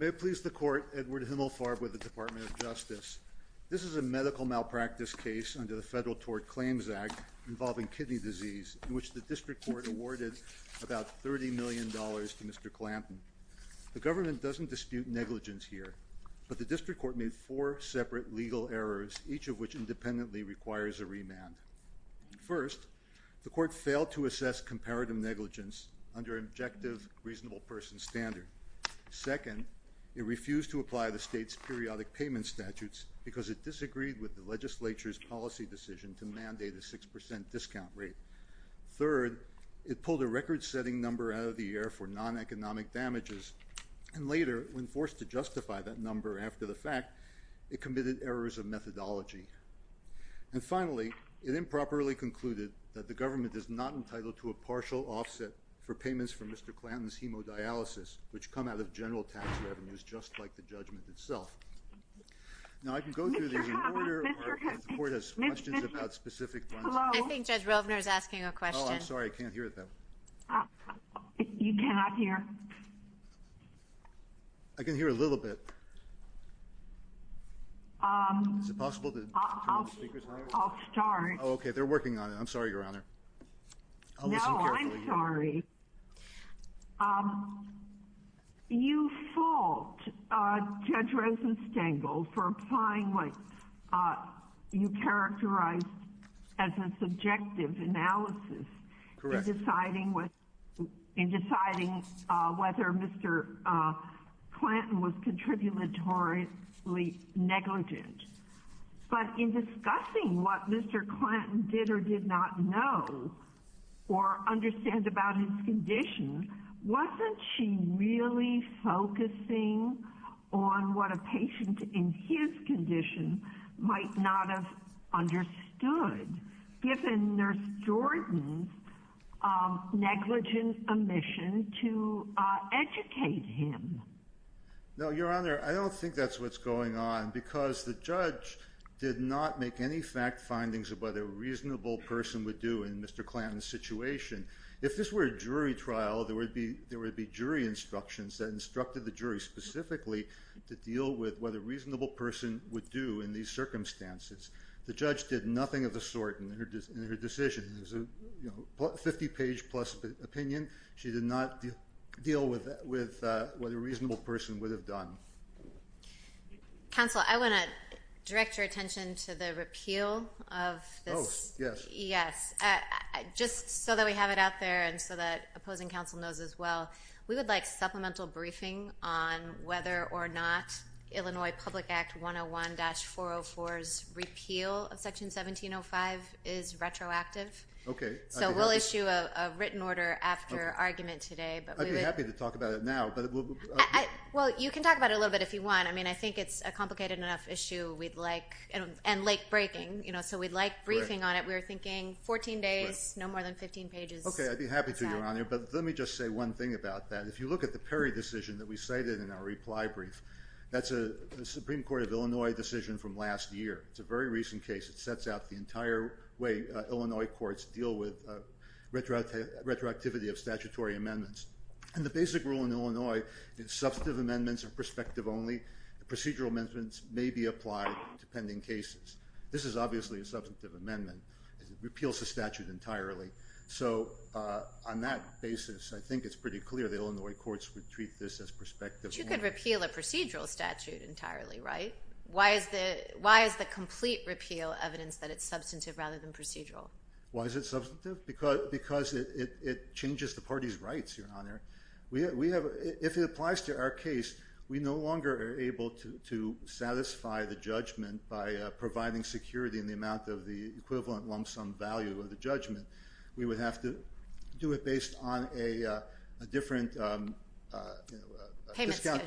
May it please the court, Edward Himmelfarb with the Department of Justice. This is a medical malpractice case under the Federal Tort Claims Act involving kidney disease in which the district court awarded about 30 million dollars to Mr. Clanton. The government doesn't dispute negligence here, but the district court made four separate legal errors, each of which independently requires a remand. First, the court failed to assess comparative negligence under objective reasonable person standard. Second, it refused to apply the state's periodic payment statutes because it disagreed with the legislature's policy decision to mandate a 6% discount rate. Third, it pulled a record-setting number out of the air for non-economic damages, and later, when forced to justify that number after the fact, it committed errors of methodology. And finally, it improperly concluded that the government is not entitled to a partial offset for payments from Mr. Clanton's hemodialysis, which come out of general tax revenues just like the judgment itself. Now, I can go through the order, but the court has questions about specific ones. I think Judge Rovner is asking a question. Oh, I'm sorry, I can't hear that. You cannot hear? I can hear a little bit. Is it possible to turn the speakers higher? I'll start. Oh, okay, they're working on it. I'm sorry, Your Honor. No, I'm sorry. You fault Judge Rosenstengel for applying what you characterized as a subjective analysis in deciding whether Mr. Clanton was contributory negligent. But in discussing what Mr. Clanton did or did not know or understand about his condition, wasn't she really focusing on what a patient in his condition might not have understood, given Nurse Jordan's negligent omission to educate him? No, Your Honor, I don't think that's what's going on because the judge did not make any fact findings about what a reasonable person would do in Mr. Clanton's situation. If this were a jury trial, there would be jury instructions that instructed the jury specifically to deal with what a reasonable person would do in these circumstances. The judge did nothing of the sort in her decision. It was a 50-page-plus opinion. She did not deal with what a reasonable person would have done. Counsel, I want to direct your attention to the repeal of this. Oh, yes. Yes. Just so that we have it out there and so that opposing counsel knows as well, we would like supplemental briefing on whether or not Illinois Public Act 101-404's repeal of Section 1705 is retroactive. Okay. So we'll issue a written order after argument today. I'd be happy to talk about it now. Well, you can talk about it a little bit if you want. I mean, I think it's a complicated enough issue and late-breaking, so we'd like briefing on it. We were thinking 14 days, no more than 15 pages. Okay, I'd be happy to, Your Honor, but let me just say one thing about that. If you look at the Perry decision that we cited in our reply brief, that's a Supreme Court of Illinois decision from last year. It's a very recent case. It sets out the entire way Illinois courts deal with retroactivity of statutory amendments. And the basic rule in Illinois is substantive amendments are perspective only. Procedural amendments may be applied to pending cases. This is obviously a substantive amendment. It repeals the statute entirely. So on that basis, I think it's pretty clear the Illinois courts would treat this as perspective only. But you could repeal a procedural statute entirely, right? Why is the complete repeal evidence that it's substantive rather than procedural? Why is it substantive? Because it changes the party's rights, Your Honor. If it applies to our case, we no longer are able to satisfy the judgment by providing security in the amount of the equivalent lump sum value of the judgment. We would have to do it based on a different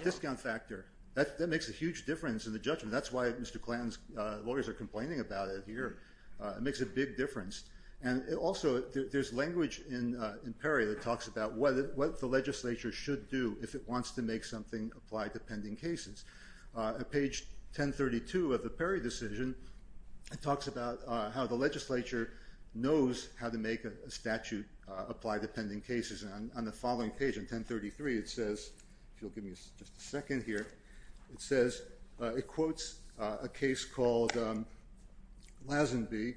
discount factor. That makes a huge difference in the judgment. That's why Mr. Clanton's lawyers are complaining about it here. It makes a big difference. And also, there's language in Perry that talks about what the legislature should do if it wants to make something apply to pending cases. On page 1032 of the Perry decision, it talks about how the legislature knows how to make a statute apply to pending cases. And on the following page, on 1033, it says, if you'll give me just a second here, it quotes a case called Lazenby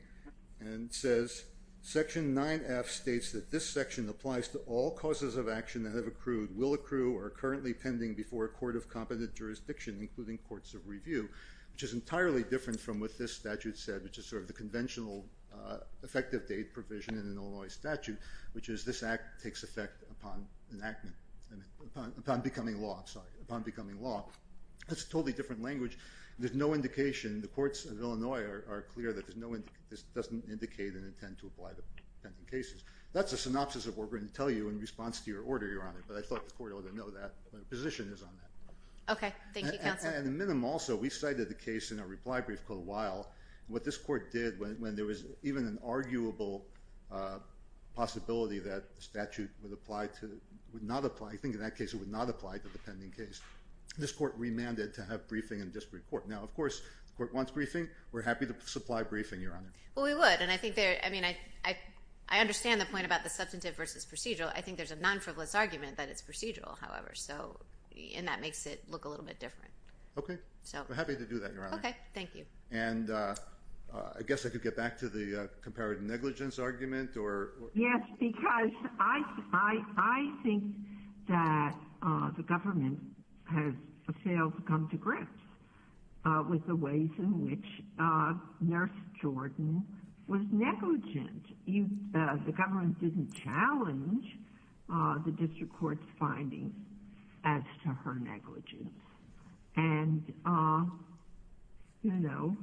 and says, Section 9F states that this section applies to all causes of action that have accrued, will accrue, or are currently pending before a court of competent jurisdiction, including courts of review, which is entirely different from what this statute said, which is sort of the conventional effective date provision in an Illinois statute, which is this act takes effect upon enactment, upon becoming law. That's a totally different language. There's no indication. The courts of Illinois are clear that this doesn't indicate an intent to apply to pending cases. That's a synopsis of what we're going to tell you in response to your order, Your Honor, but I thought the court ought to know that. My position is on that. Okay. Thank you, counsel. And the minimum also, we cited the case in a reply brief called Weil. What this court did, when there was even an arguable possibility that the statute would apply to, would not apply, I think in that case it would not apply to the pending case, this court remanded to have briefing and just report. Now, of course, the court wants briefing. We're happy to supply briefing, Your Honor. Well, we would, and I think there, I mean, I understand the point about the substantive versus procedural. I think there's a non-frivolous argument that it's procedural, however, and that makes it look a little bit different. Okay. We're happy to do that, Your Honor. Okay. Thank you. And I guess I could get back to the comparative negligence argument. Yes, because I think that the government has failed to come to grips with the ways in which Nurse Jordan was negligent. The government didn't challenge the district court's findings as to her negligence. And, you know,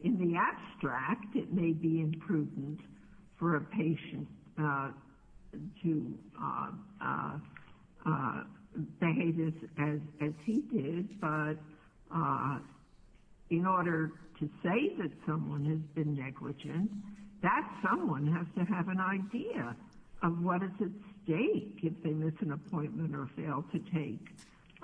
in the abstract, it may be imprudent for a patient to behave as he did, but in order to say that someone has been negligent, that someone has to have an idea of what is at stake if they miss an appointment or fail to take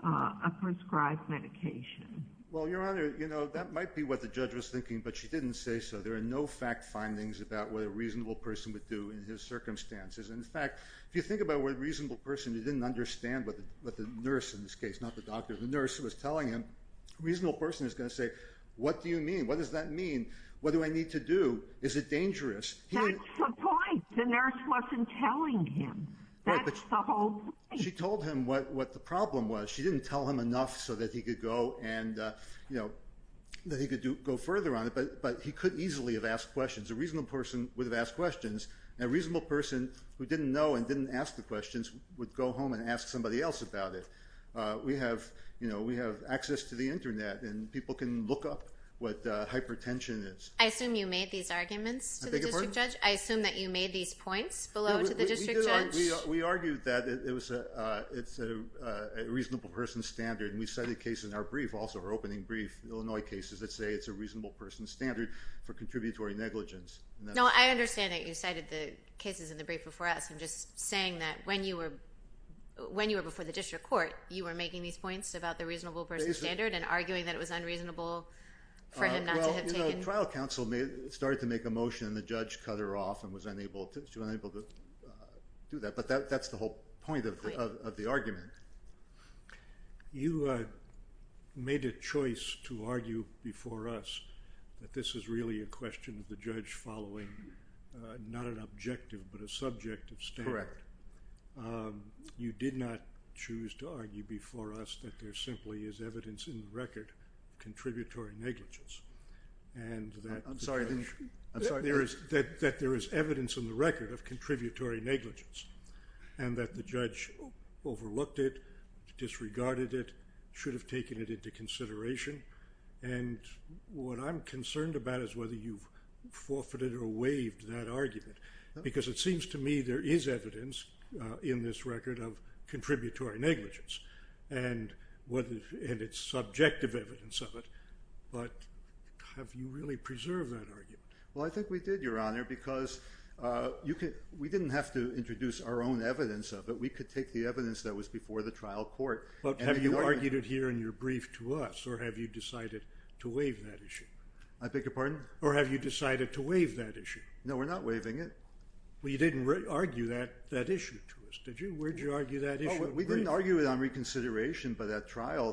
a prescribed medication. Well, Your Honor, you know, that might be what the judge was thinking, but she didn't say so. There are no fact findings about what a reasonable person would do in his circumstances. In fact, if you think about what a reasonable person who didn't understand what the nurse in this case, not the doctor, the nurse who was telling him, a reasonable person is going to say, what do you mean? What does that mean? What do I need to do? Is it dangerous? That's the point. The nurse wasn't telling him. That's the whole point. She told him what the problem was. She didn't tell him enough so that he could go and, you know, that he could go further on it, but he could easily have asked questions. A reasonable person would have asked questions, and a reasonable person who didn't know and didn't ask the questions would go home and ask somebody else about it. We have, you know, we have access to the Internet, and people can look up what hypertension is. I beg your pardon? Judge, I assume that you made these points below to the district judge? We argued that it's a reasonable person standard, and we cited cases in our brief, also our opening brief, Illinois cases, that say it's a reasonable person standard for contributory negligence. No, I understand that you cited the cases in the brief before us. I'm just saying that when you were before the district court, you were making these points about the reasonable person standard and arguing that it was unreasonable for him not to have taken… The trial counsel started to make a motion, and the judge cut her off and was unable to do that, but that's the whole point of the argument. You made a choice to argue before us that this is really a question of the judge following not an objective, but a subjective standard. Correct. You did not choose to argue before us that there simply is evidence in the record of contributory negligence, and that there is evidence in the record of contributory negligence, and that the judge overlooked it, disregarded it, should have taken it into consideration, and what I'm concerned about is whether you've forfeited or waived that argument, because it seems to me there is evidence in this record of contributory negligence, and it's subjective evidence of it, but have you really preserved that argument? Well, I think we did, Your Honor, because we didn't have to introduce our own evidence of it. We could take the evidence that was before the trial court… But have you argued it here in your brief to us, or have you decided to waive that issue? I beg your pardon? Or have you decided to waive that issue? No, we're not waiving it. Well, you didn't argue that issue to us, did you? Where did you argue that issue? We didn't argue it on reconsideration by that trial.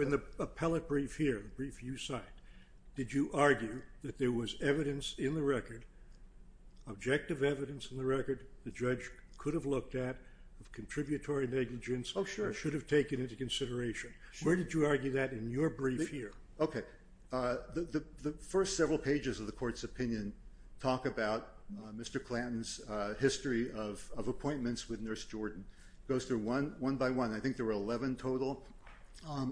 In the appellate brief here, the brief you cite, did you argue that there was evidence in the record, objective evidence in the record, the judge could have looked at of contributory negligence or should have taken into consideration? Where did you argue that in your brief here? Okay. The first several pages of the court's opinion talk about Mr. Clanton's history of appointments with Nurse Jordan. It goes through one by one. I think there were 11 total.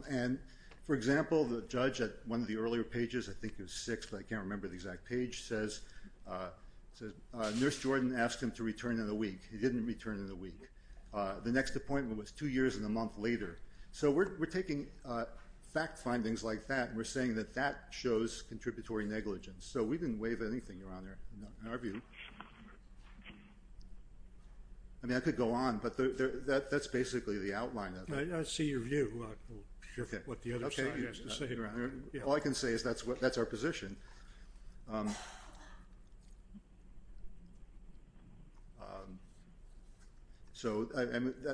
And, for example, the judge at one of the earlier pages, I think it was six, but I can't remember the exact page, says Nurse Jordan asked him to return in a week. He didn't return in a week. The next appointment was two years and a month later. So we're taking fact findings like that, and we're saying that that shows contributory negligence. So we didn't waive anything, Your Honor, in our view. I mean, I could go on, but that's basically the outline of it. I see your view. I'm not sure what the other side has to say. All I can say is that's our position. So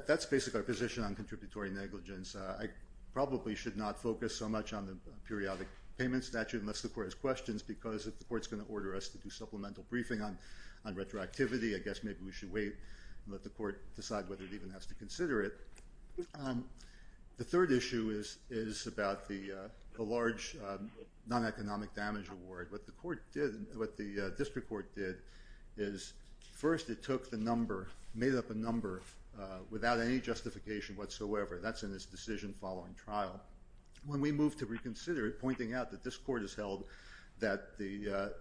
that's basically our position on contributory negligence. I probably should not focus so much on the periodic payment statute unless the court has questions because if the court's going to order us to do supplemental briefing on retroactivity, I guess maybe we should wait and let the court decide whether it even has to consider it. The third issue is about the large non-economic damage award. What the district court did is first it took the number, made up a number, without any justification whatsoever. That's in its decision following trial. When we moved to reconsider it, pointing out that this court has held that the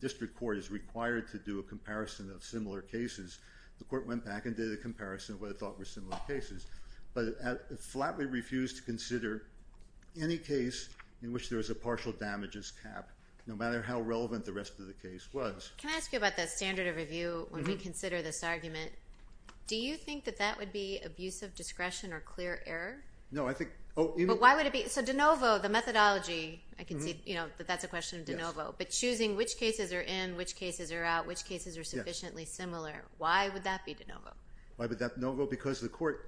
district court is required to do a comparison of similar cases, the court went back and did a comparison of what it thought were similar cases, but it flatly refused to consider any case in which there was a partial damages cap, no matter how relevant the rest of the case was. Can I ask you about that standard of review when we consider this argument? Do you think that that would be abuse of discretion or clear error? But why would it be? So de novo, the methodology, I can see that that's a question of de novo, but choosing which cases are in, which cases are out, which cases are sufficiently similar, why would that be de novo? Why would that be de novo? Because the court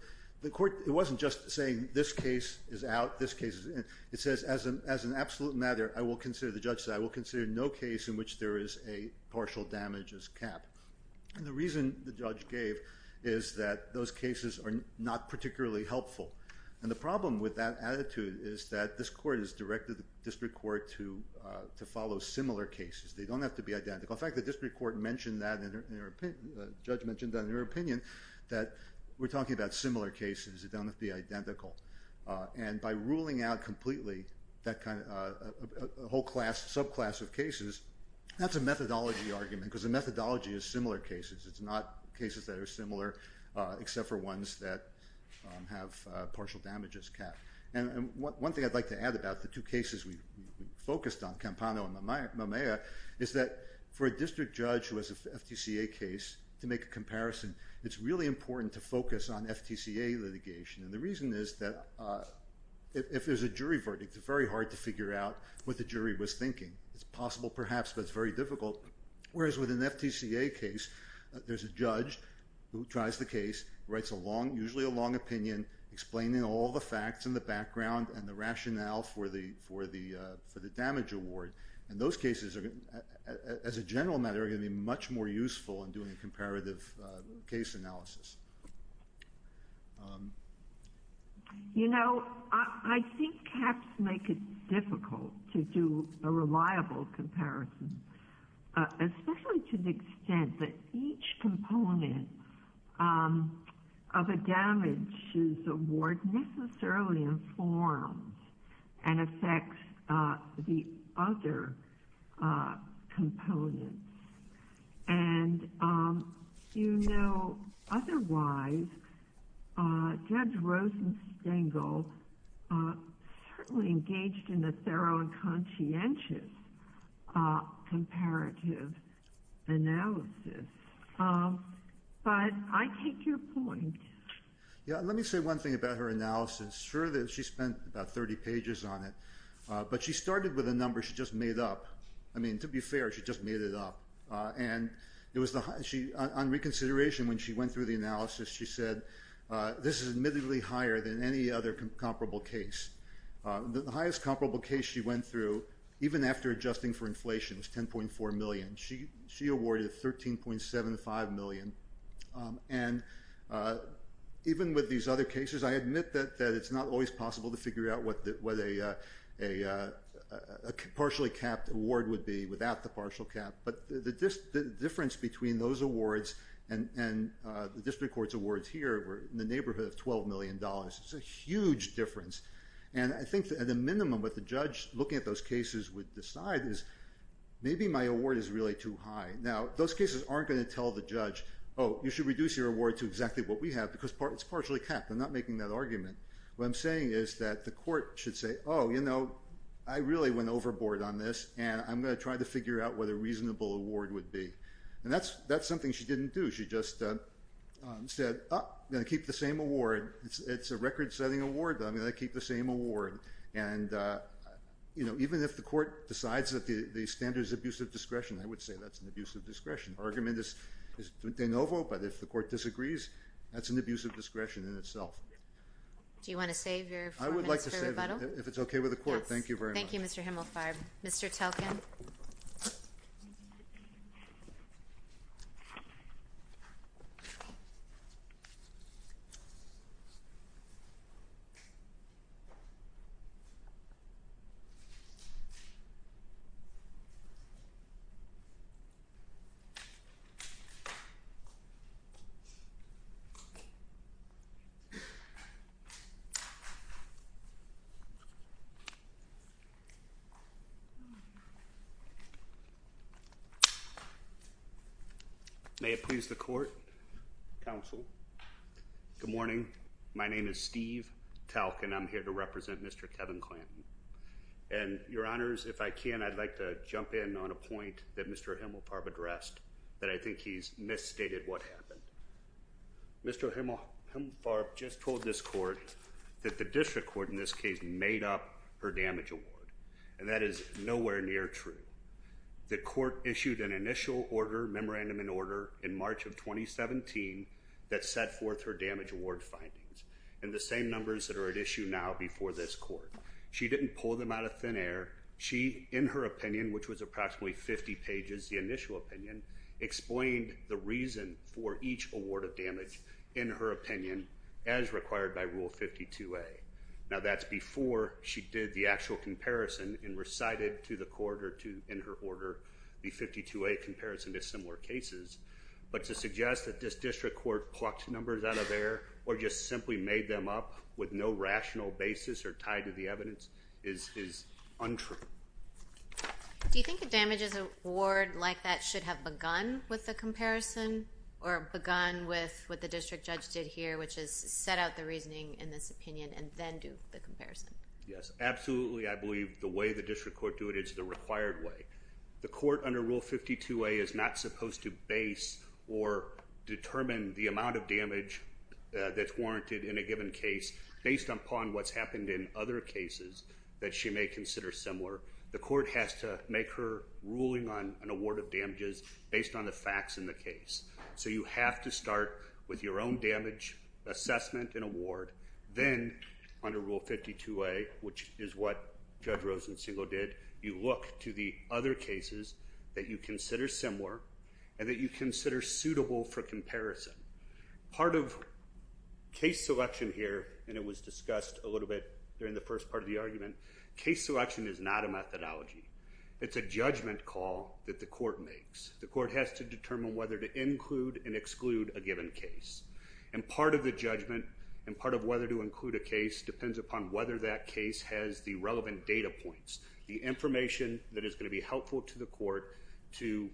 wasn't just saying this case is out, this case is in. It says as an absolute matter, I will consider the judge said, I will consider no case in which there is a partial damages cap. And the reason the judge gave is that those cases are not particularly helpful. And the problem with that attitude is that this court has directed the district court to follow similar cases. They don't have to be identical. In fact, the district court mentioned that and the judge mentioned that in their opinion that we're talking about similar cases. They don't have to be identical. And by ruling out completely that whole class, subclass of cases, that's a methodology argument because the methodology is similar cases. It's not cases that are similar except for ones that have partial damages cap. And one thing I'd like to add about the two cases we focused on, Campano and Maumea, is that for a district judge who has an FTCA case to make a comparison, it's really important to focus on FTCA litigation. And the reason is that if there's a jury verdict, it's very hard to figure out what the jury was thinking. It's possible perhaps, but it's very difficult. Whereas with an FTCA case, there's a judge who tries the case, writes usually a long opinion, explaining all the facts and the background and the rationale for the damage award. And those cases, as a general matter, are going to be much more useful in doing a comparative case analysis. You know, I think caps make it difficult to do a reliable comparison, especially to the extent that each component of a damages award necessarily informs and affects the other components. And, you know, otherwise, Judge Rosenstengel certainly engaged in a thorough and conscientious comparative analysis. But I take your point. Yeah, let me say one thing about her analysis. Sure, she spent about 30 pages on it, but she started with a number she just made up. I mean, to be fair, she just made it up. And on reconsideration, when she went through the analysis, she said, this is admittedly higher than any other comparable case. The highest comparable case she went through, even after adjusting for inflation, was $10.4 million. She awarded $13.75 million. And even with these other cases, I admit that it's not always possible to figure out what a partially capped award would be without the partial cap. But the difference between those awards and the district court's awards here, in the neighborhood of $12 million, is a huge difference. And I think at a minimum, what the judge looking at those cases would decide is, maybe my award is really too high. Now, those cases aren't going to tell the judge, oh, you should reduce your award to exactly what we have because it's partially capped. I'm not making that argument. What I'm saying is that the court should say, oh, you know, I really went overboard on this, and I'm going to try to figure out what a reasonable award would be. And that's something she didn't do. She just said, oh, I'm going to keep the same award. It's a record-setting award. I'm going to keep the same award. And even if the court decides that the standard is abusive discretion, I would say that's an abusive discretion. The argument is de novo, but if the court disagrees, that's an abusive discretion in itself. Do you want to save your four minutes for rebuttal? I would like to save it if it's okay with the court. Thank you very much. Thank you, Mr. Himmelfarb. Mr. Talkin. May it please the court, counsel. Good morning. My name is Steve Talkin. I'm here to represent Mr. Kevin Clanton. And, your honors, if I can, I'd like to jump in on a point that Mr. Himmelfarb addressed that I think he's misstated what happened. Mr. Himmelfarb just told this court that the district court, in this case, made up her damage award, and that is nowhere near true. The court issued an initial order, memorandum in order, in March of 2017 that set forth her damage award findings, and the same numbers that are at issue now before this court. She didn't pull them out of thin air. She, in her opinion, which was approximately 50 pages, the initial opinion, explained the reason for each award of damage, in her opinion, as required by Rule 52A. Now, that's before she did the actual comparison and recited to the court or to, in her order, the 52A comparison to similar cases. But to suggest that this district court plucked numbers out of air or just simply made them up with no rational basis or tied to the evidence is untrue. Do you think a damage award like that should have begun with the comparison or begun with what the district judge did here, which is set out the reasoning in this opinion and then do the comparison? Yes, absolutely. I believe the way the district court do it is the required way. The court under Rule 52A is not supposed to base or determine the amount of damage that's warranted in a given case based upon what's happened in other cases that she may consider similar. The court has to make her ruling on an award of damages based on the facts in the case. So you have to start with your own damage assessment and award, then under Rule 52A, which is what Judge Rosenstein did, you look to the other cases that you consider similar and that you consider suitable for comparison. Part of case selection here, and it was discussed a little bit during the first part of the argument, case selection is not a methodology. It's a judgment call that the court makes. The court has to determine whether to include and exclude a given case. And part of the judgment and part of whether to include a case depends upon whether that case has the relevant data points, the information that is going to be helpful to the court to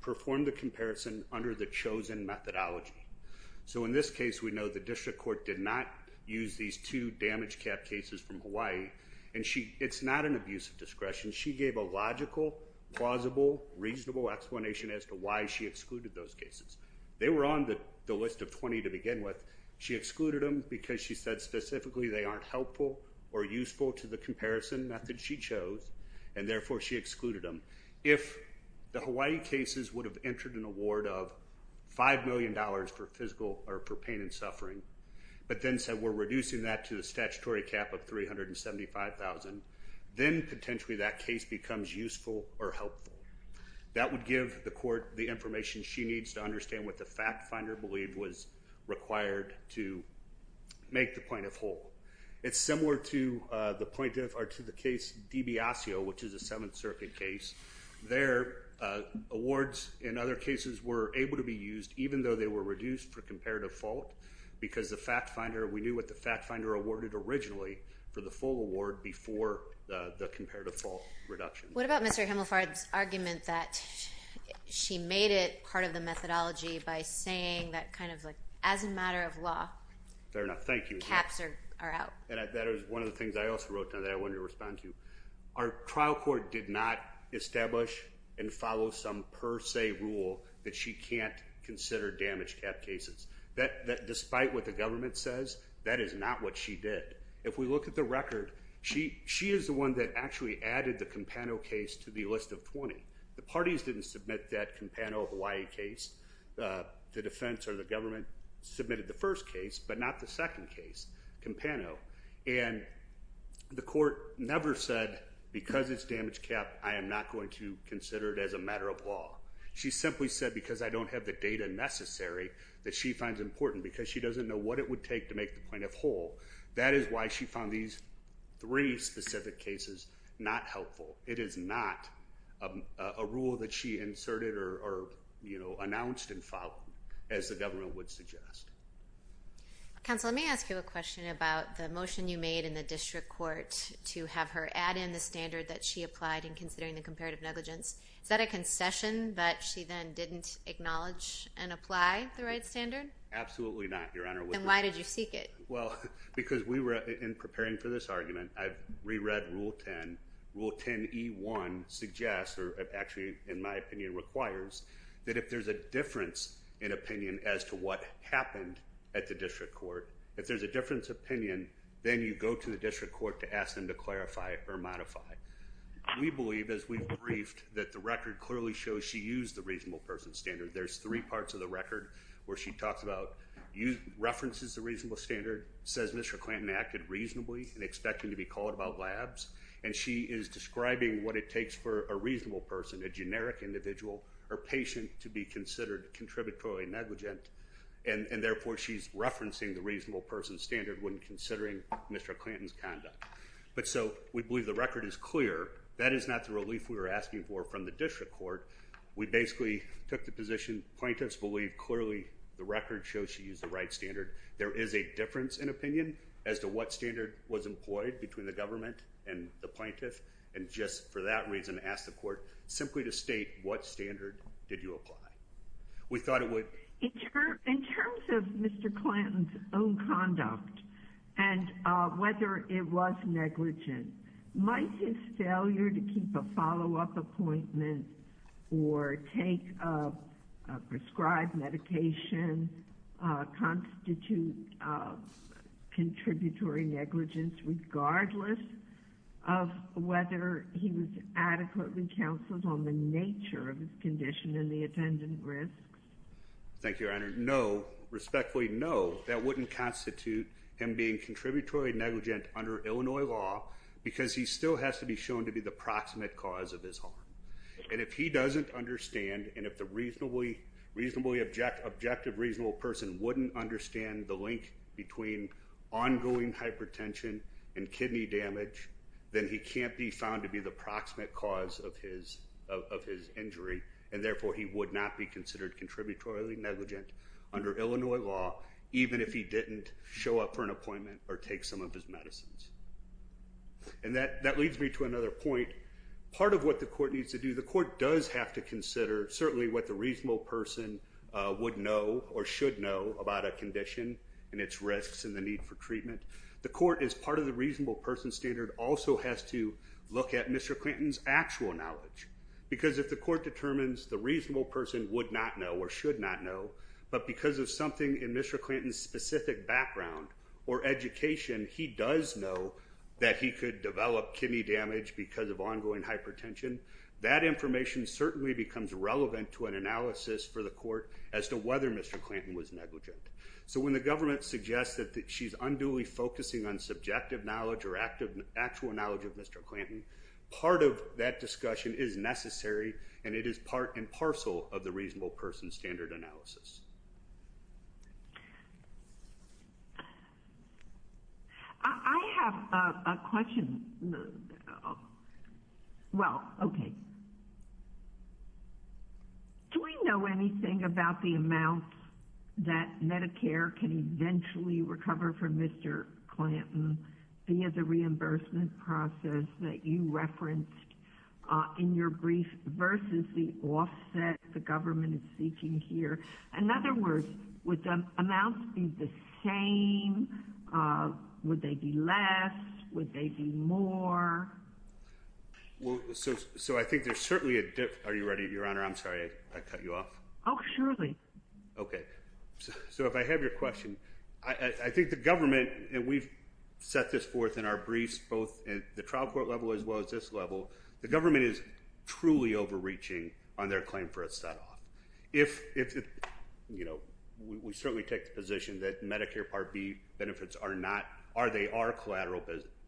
perform the comparison under the chosen methodology. So in this case, we know the district court did not use these two damage cap cases from Hawaii, and it's not an abuse of discretion. She gave a logical, plausible, reasonable explanation as to why she excluded those cases. They were on the list of 20 to begin with. She excluded them because she said specifically they aren't helpful or useful to the comparison method she chose, and therefore she excluded them. If the Hawaii cases would have entered an award of $5 million for physical or for pain and suffering, but then said we're reducing that to a statutory cap of $375,000, then potentially that case becomes useful or helpful. That would give the court the information she needs to understand what the fact finder believed was required to make the point of whole. It's similar to the case DiBiasio, which is a Seventh Circuit case. Their awards in other cases were able to be used, even though they were reduced for comparative fault because we knew what the fact finder awarded originally for the full award before the comparative fault reduction. What about Mr. Himelfar's argument that she made it part of the methodology by saying that as a matter of law... Fair enough. Thank you. Caps are out. That is one of the things I also wrote down that I wanted to respond to. Our trial court did not establish and follow some per se rule that she can't consider damage cap cases. Despite what the government says, that is not what she did. If we look at the record, she is the one that actually added the Campano case to the list of 20. The parties didn't submit that Campano Hawaii case. The defense or the government submitted the first case, but not the second case, Campano. And the court never said because it's damage cap, I am not going to consider it as a matter of law. She simply said because I don't have the data necessary that she finds important because she doesn't know what it would take to make the plaintiff whole. That is why she found these three specific cases not helpful. It is not a rule that she inserted or announced and followed, as the government would suggest. Counsel, let me ask you a question about the motion you made in the district court to have her add in the standard that she applied in considering the comparative negligence. Is that a concession that she then didn't acknowledge and apply the right standard? Absolutely not, Your Honor. Then why did you seek it? Because in preparing for this argument, I've reread Rule 10. Rule 10E1 suggests, or actually in my opinion requires, that if there's a difference in opinion as to what happened at the district court, if there's a difference of opinion, then you go to the district court to ask them to clarify or modify. We believe, as we've briefed, that the record clearly shows she used the reasonable person standard. There's three parts of the record where she talks about references to reasonable standard, says Mr. Clanton acted reasonably and expected to be called about labs, and she is describing what it takes for a reasonable person, a generic individual or patient, to be considered contributory negligent, and therefore she's referencing the reasonable person standard when considering Mr. Clanton's conduct. But so we believe the record is clear. That is not the relief we were asking for from the district court. We basically took the position plaintiffs believe clearly the record shows she used the right standard. There is a difference in opinion as to what standard was employed between the government and the plaintiff, and just for that reason ask the court simply to state what standard did you apply. We thought it would... In terms of Mr. Clanton's own conduct and whether it was negligent, might his failure to keep a follow-up appointment or take a prescribed medication constitute contributory negligence regardless of whether he was adequately counseled on the nature of his condition and the attendant risks? Thank you, Your Honor. No, respectfully, no. That wouldn't constitute him being contributory negligent under Illinois law because he still has to be shown to be the proximate cause of his harm. And if he doesn't understand and if the reasonably objective reasonable person wouldn't understand the link between ongoing hypertension and kidney damage, then he can't be found to be the proximate cause of his injury, and therefore he would not be considered contributory negligent under Illinois law even if he didn't show up for an appointment or take some of his medicines. And that leads me to another point. Part of what the court needs to do, the court does have to consider certainly what the reasonable person would know or should know about a condition and its risks and the need for treatment. The court, as part of the reasonable person standard, also has to look at Mr. Clanton's actual knowledge because if the court determines the reasonable person would not know or should not know, but because of something in Mr. Clanton's specific background or education, he does know that he could develop kidney damage because of ongoing hypertension, that information certainly becomes relevant to an analysis for the court as to whether Mr. Clanton was negligent. So when the government suggests that she's unduly focusing on subjective knowledge or actual knowledge of Mr. Clanton, part of that discussion is necessary and it is part and parcel of the reasonable person standard analysis. I have a question. Well, okay. Do we know anything about the amount that Medicare can eventually recover from Mr. Clanton via the reimbursement process that you referenced in your brief versus the offset the government is seeking here? In other words, would the amounts be the same? Would they be less? Would they be more? So I think there's certainly a difference. Are you ready, Your Honor? I'm sorry. I cut you off. Oh, surely. Okay. So if I have your question, I think the government, and we've set this forth in our briefs both at the trial court level as well as this level, the government is truly overreaching on their claim for a set-off. If, you know, we certainly take the position that Medicare Part B benefits are not or they are collateral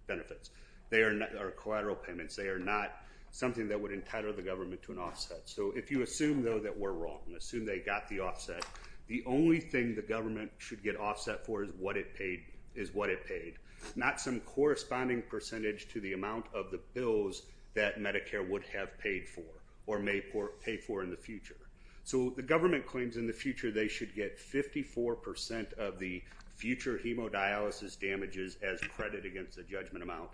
benefits or collateral payments. They are not something that would entitle the government to an offset. So if you assume, though, that we're wrong, assume they got the offset, the only thing the government should get offset for is what it paid, not some corresponding percentage to the amount of the bills that Medicare would have paid for or may pay for in the future. So the government claims in the future they should get 54% of the future hemodialysis damages as credit against the judgment amount.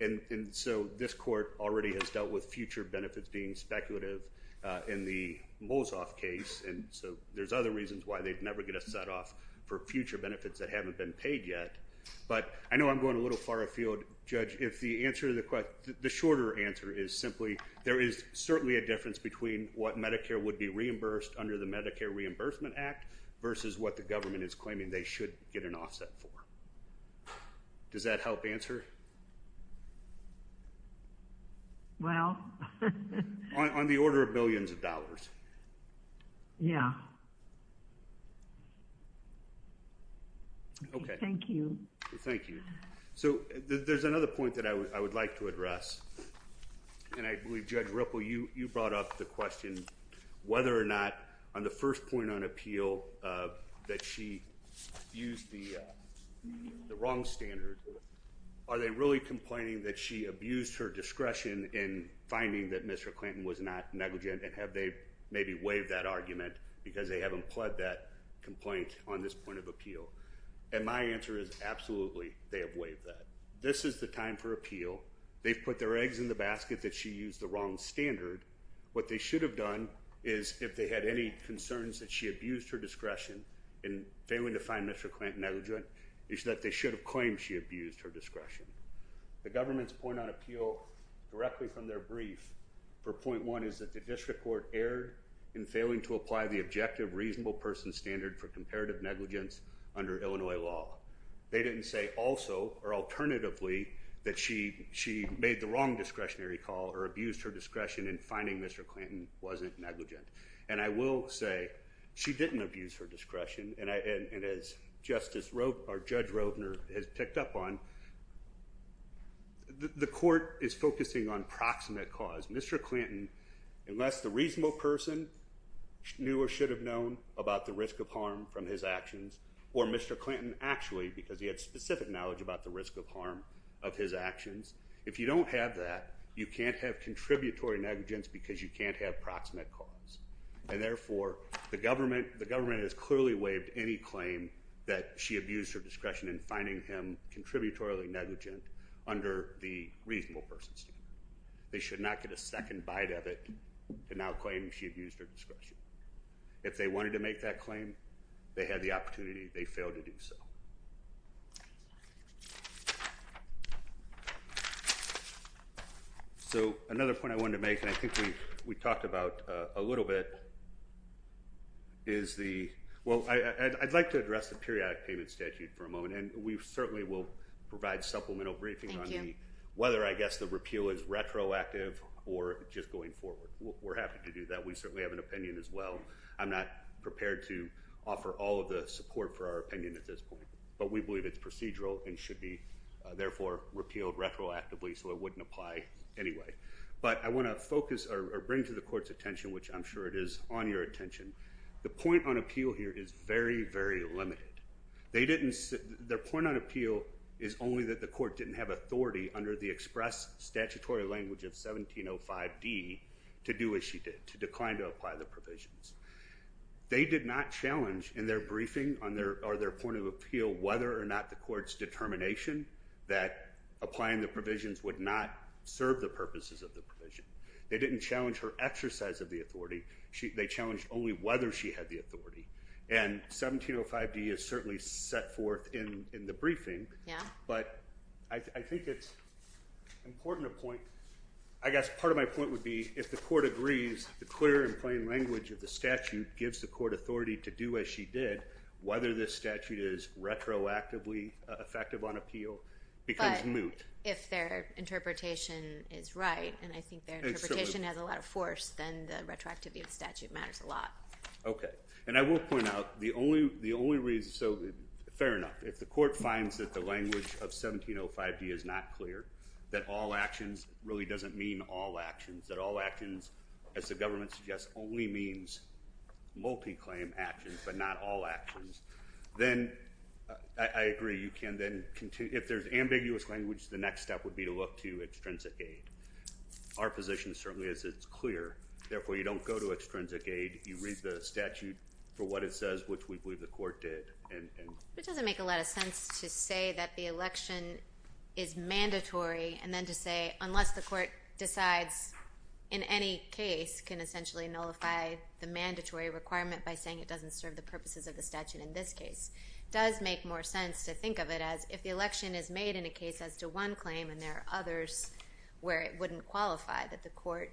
And so this court already has dealt with future benefits being speculative in the Molsoff case, and so there's other reasons why they'd never get a set-off for future benefits that haven't been paid yet. But I know I'm going a little far afield, Judge. If the answer to the question, the shorter answer is simply there is certainly a difference between what Medicare would be reimbursed under the Medicare Reimbursement Act versus what the government is claiming they should get an offset for. Does that help answer? Well. On the order of billions of dollars. Yeah. Okay. Thank you. Thank you. So there's another point that I would like to address, and I believe, Judge Ripple, you brought up the question whether or not on the first point on appeal that she used the wrong standard. Are they really complaining that she abused her discretion in finding that Mr. Clinton was not negligent, and have they maybe waived that argument because they haven't pled that complaint on this point of appeal? And my answer is absolutely they have waived that. This is the time for appeal. They've put their eggs in the basket that she used the wrong standard. What they should have done is if they had any concerns that she abused her discretion in failing to find Mr. Clinton negligent is that they should have claimed she abused her discretion. The government's point on appeal directly from their brief for point one is that the district court erred in failing to apply the objective reasonable person standard for comparative negligence under Illinois law. They didn't say also or alternatively that she made the wrong discretionary call or abused her discretion in finding Mr. Clinton wasn't negligent. And I will say she didn't abuse her discretion, and as Judge Rovner has picked up on, the court is focusing on proximate cause. Mr. Clinton, unless the reasonable person knew or should have known about the risk of harm from his actions or Mr. Clinton actually because he had specific knowledge about the risk of harm of his actions, if you don't have that, you can't have contributory negligence because you can't have proximate cause. And therefore, the government has clearly waived any claim that she abused her discretion in finding him contributory negligent under the reasonable person standard. They should not get a second bite of it to now claim she abused her discretion. If they wanted to make that claim, they had the opportunity. They failed to do so. So another point I wanted to make, and I think we talked about a little bit, is the – well, I'd like to address the periodic payment statute for a moment, and we certainly will provide supplemental briefings on whether I guess the repeal is retroactive or just going forward. We're happy to do that. We certainly have an opinion as well. I'm not prepared to offer all of the support for our opinion at this point, but we believe it's procedural and should be therefore repealed retroactively so it wouldn't apply anyway. But I want to focus or bring to the court's attention, which I'm sure it is on your attention, the point on appeal here is very, very limited. They didn't – their point on appeal is only that the court didn't have authority under the express statutory language of 1705D to do as she did, to decline to apply the provisions. They did not challenge in their briefing or their point of appeal whether or not the court's determination that applying the provisions would not serve the purposes of the provision. They didn't challenge her exercise of the authority. They challenged only whether she had the authority. And 1705D is certainly set forth in the briefing, but I think it's important to point – I guess part of my point would be if the court agrees the clear and plain language of the statute gives the court authority to do as she did, whether this statute is retroactively effective on appeal becomes moot. But if their interpretation is right, and I think their interpretation has a lot of force, then the retroactivity of the statute matters a lot. Okay. And I will point out the only reason – so fair enough, if the court finds that the language of 1705D is not clear, that all actions really doesn't mean all actions, that all actions, as the government suggests, only means multi-claim actions but not all actions, then I agree. You can then – if there's ambiguous language, the next step would be to look to extrinsic aid. Our position certainly is it's clear. Therefore, you don't go to extrinsic aid. You read the statute for what it says, which we believe the court did. It doesn't make a lot of sense to say that the election is mandatory and then to say unless the court decides in any case can essentially nullify the mandatory requirement by saying it doesn't serve the purposes of the statute in this case. It does make more sense to think of it as if the election is made in a case as to one claim and there are others where it wouldn't qualify that the court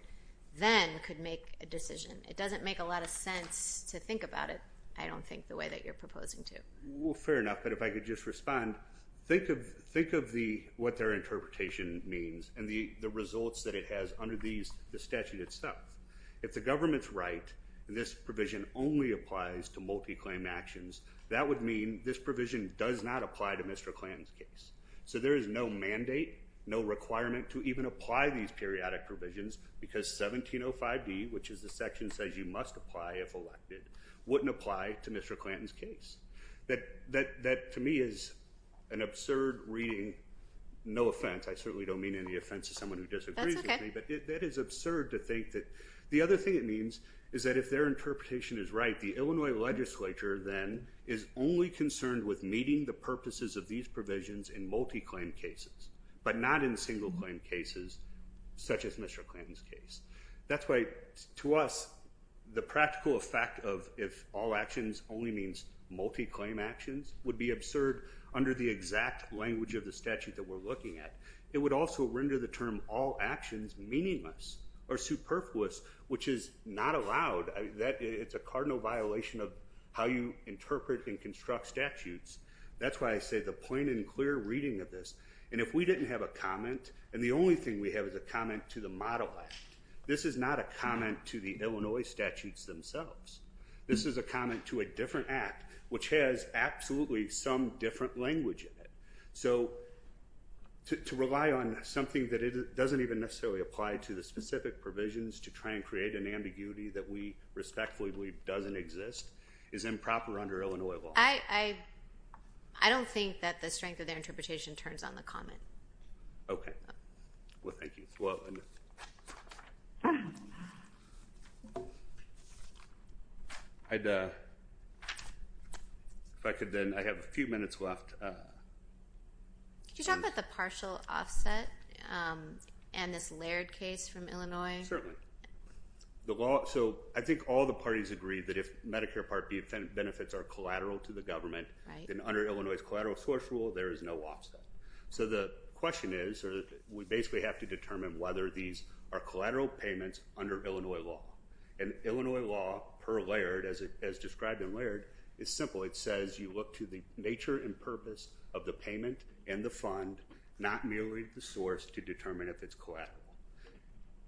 then could make a decision. It doesn't make a lot of sense to think about it, I don't think, the way that you're proposing to. Well, fair enough, but if I could just respond. Think of what their interpretation means and the results that it has under the statute itself. If the government's right, this provision only applies to multi-claim actions, that would mean this provision does not apply to Mr. Clanton's case. So there is no mandate, no requirement to even apply these periodic provisions because 1705D, which is the section that says you must apply if elected, wouldn't apply to Mr. Clanton's case. That to me is an absurd reading. No offense, I certainly don't mean any offense to someone who disagrees with me, but that is absurd to think that. The other thing it means is that if their interpretation is right, the Illinois legislature then is only concerned with meeting the purposes of these provisions in multi-claim cases, but not in single-claim cases such as Mr. Clanton's case. That's why to us the practical effect of if all actions only means multi-claim actions would be absurd under the exact language of the statute that we're looking at. It would also render the term all actions meaningless or superfluous, which is not allowed. It's a cardinal violation of how you interpret and construct statutes. That's why I say the plain and clear reading of this, and if we didn't have a comment, and the only thing we have is a comment to the model act, this is not a comment to the Illinois statutes themselves. This is a comment to a different act, which has absolutely some different language in it. So to rely on something that doesn't even necessarily apply to the specific provisions to try and create an ambiguity that we respectfully believe doesn't exist is improper under Illinois law. I don't think that the strength of their interpretation turns on the comment. Okay. Well, thank you. If I could then, I have a few minutes left. Could you talk about the partial offset and this Laird case from Illinois? Certainly. So I think all the parties agree that if Medicare Part B benefits are collateral to the government, then under Illinois' collateral source rule, there is no offset. So the question is we basically have to determine whether these are collateral payments under Illinois law. And Illinois law per Laird, as described in Laird, is simple. It says you look to the nature and purpose of the payment and the fund, not merely the source, to determine if it's collateral.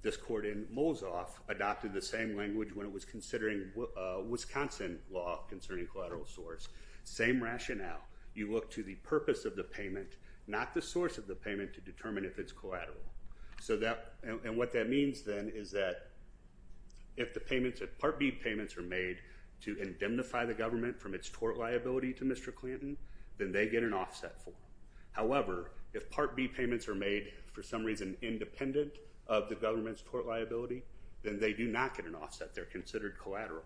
This court in Mosoff adopted the same language when it was considering Wisconsin law concerning collateral source, same rationale. You look to the purpose of the payment, not the source of the payment, to determine if it's collateral. And what that means then is that if Part B payments are made to indemnify the government from its tort liability to Mr. Clanton, then they get an offset for them. However, if Part B payments are made for some reason independent of the government's tort liability, then they do not get an offset. They're considered collateral.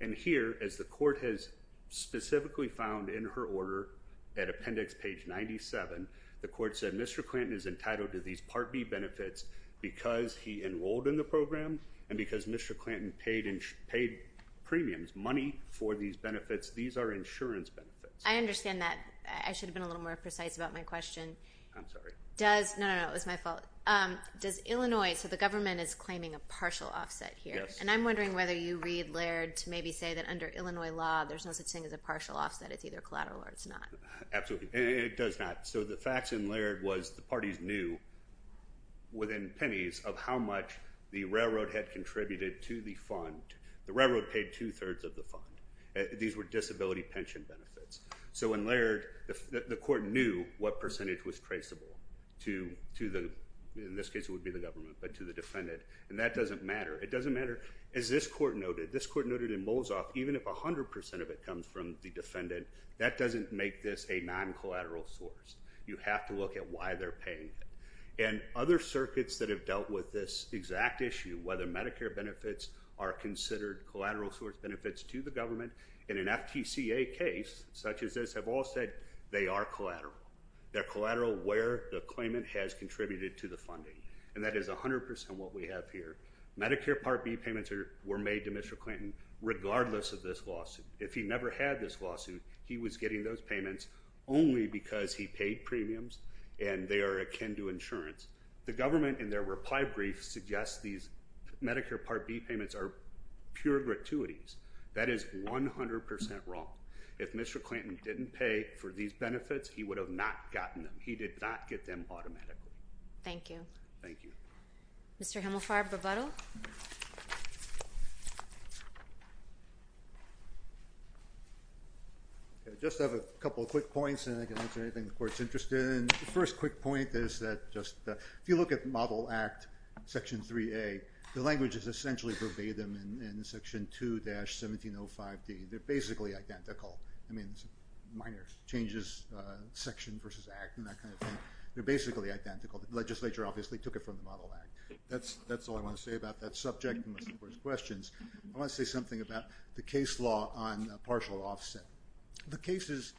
And here, as the court has specifically found in her order at Appendix page 97, the court said Mr. Clanton is entitled to these Part B benefits because he enrolled in the program and because Mr. Clanton paid premiums, money, for these benefits. These are insurance benefits. I understand that. I should have been a little more precise about my question. I'm sorry. No, no, no. It was my fault. Does Illinois, so the government is claiming a partial offset here. Yes. And I'm wondering whether you read Laird to maybe say that under Illinois law, there's no such thing as a partial offset. It's either collateral or it's not. Absolutely. It does not. So the facts in Laird was the parties knew within pennies of how much the railroad had contributed to the fund. The railroad paid two-thirds of the fund. These were disability pension benefits. So in Laird, the court knew what percentage was traceable to the, in this case, it would be the government, but to the defendant. And that doesn't matter. It doesn't matter. As this court noted, this court noted in Molzoff, even if 100% of it comes from the defendant, that doesn't make this a non-collateral source. You have to look at why they're paying it. And other circuits that have dealt with this exact issue, whether Medicare benefits are considered collateral source benefits to the government, in an FTCA case such as this, have all said they are collateral. They're collateral where the claimant has contributed to the funding. And that is 100% what we have here. Medicare Part B payments were made to Mr. Clinton regardless of this lawsuit. If he never had this lawsuit, he was getting those payments only because he paid premiums and they are akin to insurance. The government, in their reply brief, suggests these Medicare Part B payments are pure gratuities. That is 100% wrong. If Mr. Clinton didn't pay for these benefits, he would have not gotten them. He did not get them automatically. Thank you. Thank you. Mr. Himelfarb, rebuttal. I just have a couple of quick points, and then I can answer anything the court is interested in. The first quick point is that if you look at Model Act Section 3A, the language is essentially verbatim in Section 2-1705D. They're basically identical. I mean, minor changes, section versus act, and that kind of thing. They're basically identical. The legislature obviously took it from the Model Act. That's all I want to say about that subject unless there are questions. I want to say something about the case law on partial offset. The cases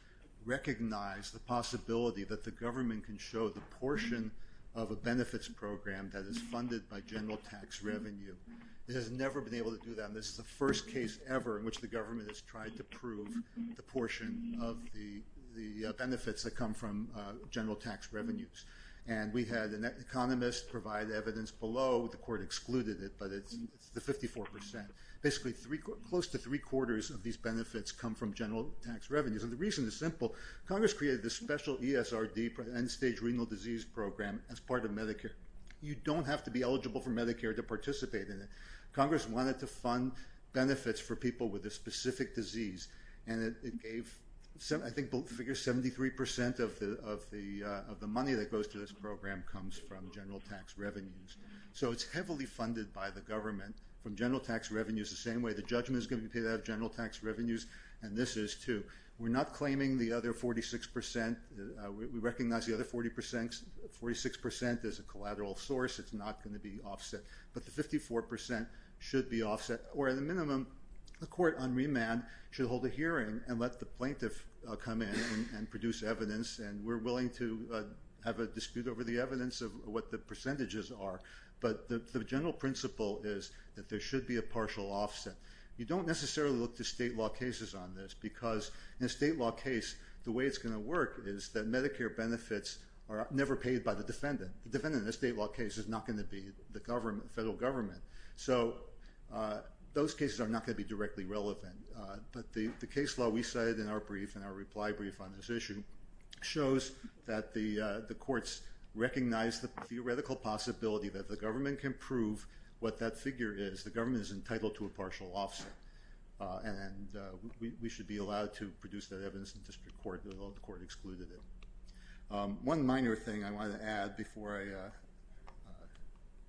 recognize the possibility that the government can show the portion of a benefits program that is funded by general tax revenue. It has never been able to do that, and this is the first case ever in which the government has tried to prove the portion of the benefits that come from general tax revenues. And we had an economist provide evidence below. The court excluded it, but it's the 54%. Basically, close to three-quarters of these benefits come from general tax revenues, and the reason is simple. Congress created this special ESRD, end-stage renal disease program, as part of Medicare. You don't have to be eligible for Medicare to participate in it. Congress wanted to fund benefits for people with a specific disease, and it gave, I think, figure 73% of the money that goes to this program comes from general tax revenues. So it's heavily funded by the government from general tax revenues. The same way the judgment is going to be paid out of general tax revenues, and this is, too. We're not claiming the other 46%. We recognize the other 46% as a collateral source. It's not going to be offset, but the 54% should be offset, or at the minimum, the court on remand should hold a hearing and let the plaintiff come in and produce evidence, and we're willing to have a dispute over the evidence of what the percentages are. But the general principle is that there should be a partial offset. You don't necessarily look to state law cases on this, because in a state law case, the way it's going to work is that Medicare benefits are never paid by the defendant. The defendant in a state law case is not going to be the federal government. So those cases are not going to be directly relevant. But the case law we cited in our brief, in our reply brief on this issue, shows that the courts recognize the theoretical possibility that the government can prove what that figure is. The government is entitled to a partial offset, and we should be allowed to produce that evidence in district court, although the court excluded it. One minor thing I wanted to add before I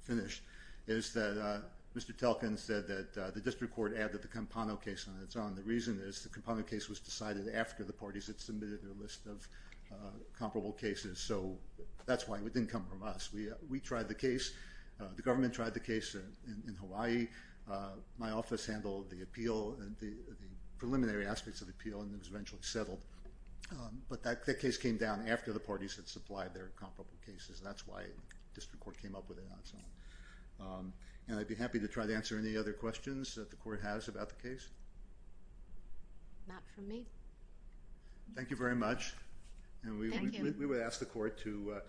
finish is that Mr. Telkin said that the district court added the Campano case on its own. The reason is the Campano case was decided after the parties had submitted their list of comparable cases, so that's why it didn't come from us. We tried the case. The government tried the case in Hawaii. My office handled the preliminary aspects of the appeal, and it was eventually settled. But that case came down after the parties had supplied their comparable cases, and that's why district court came up with it on its own. And I'd be happy to try to answer any other questions that the court has about the case. Not from me. Thank you very much. Thank you. And we would ask the court to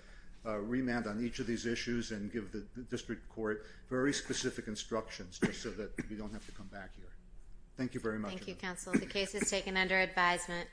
remand on each of these issues and give the district court very specific instructions just so that we don't have to come back here. Thank you very much. Thank you, counsel. The case is taken under advisement.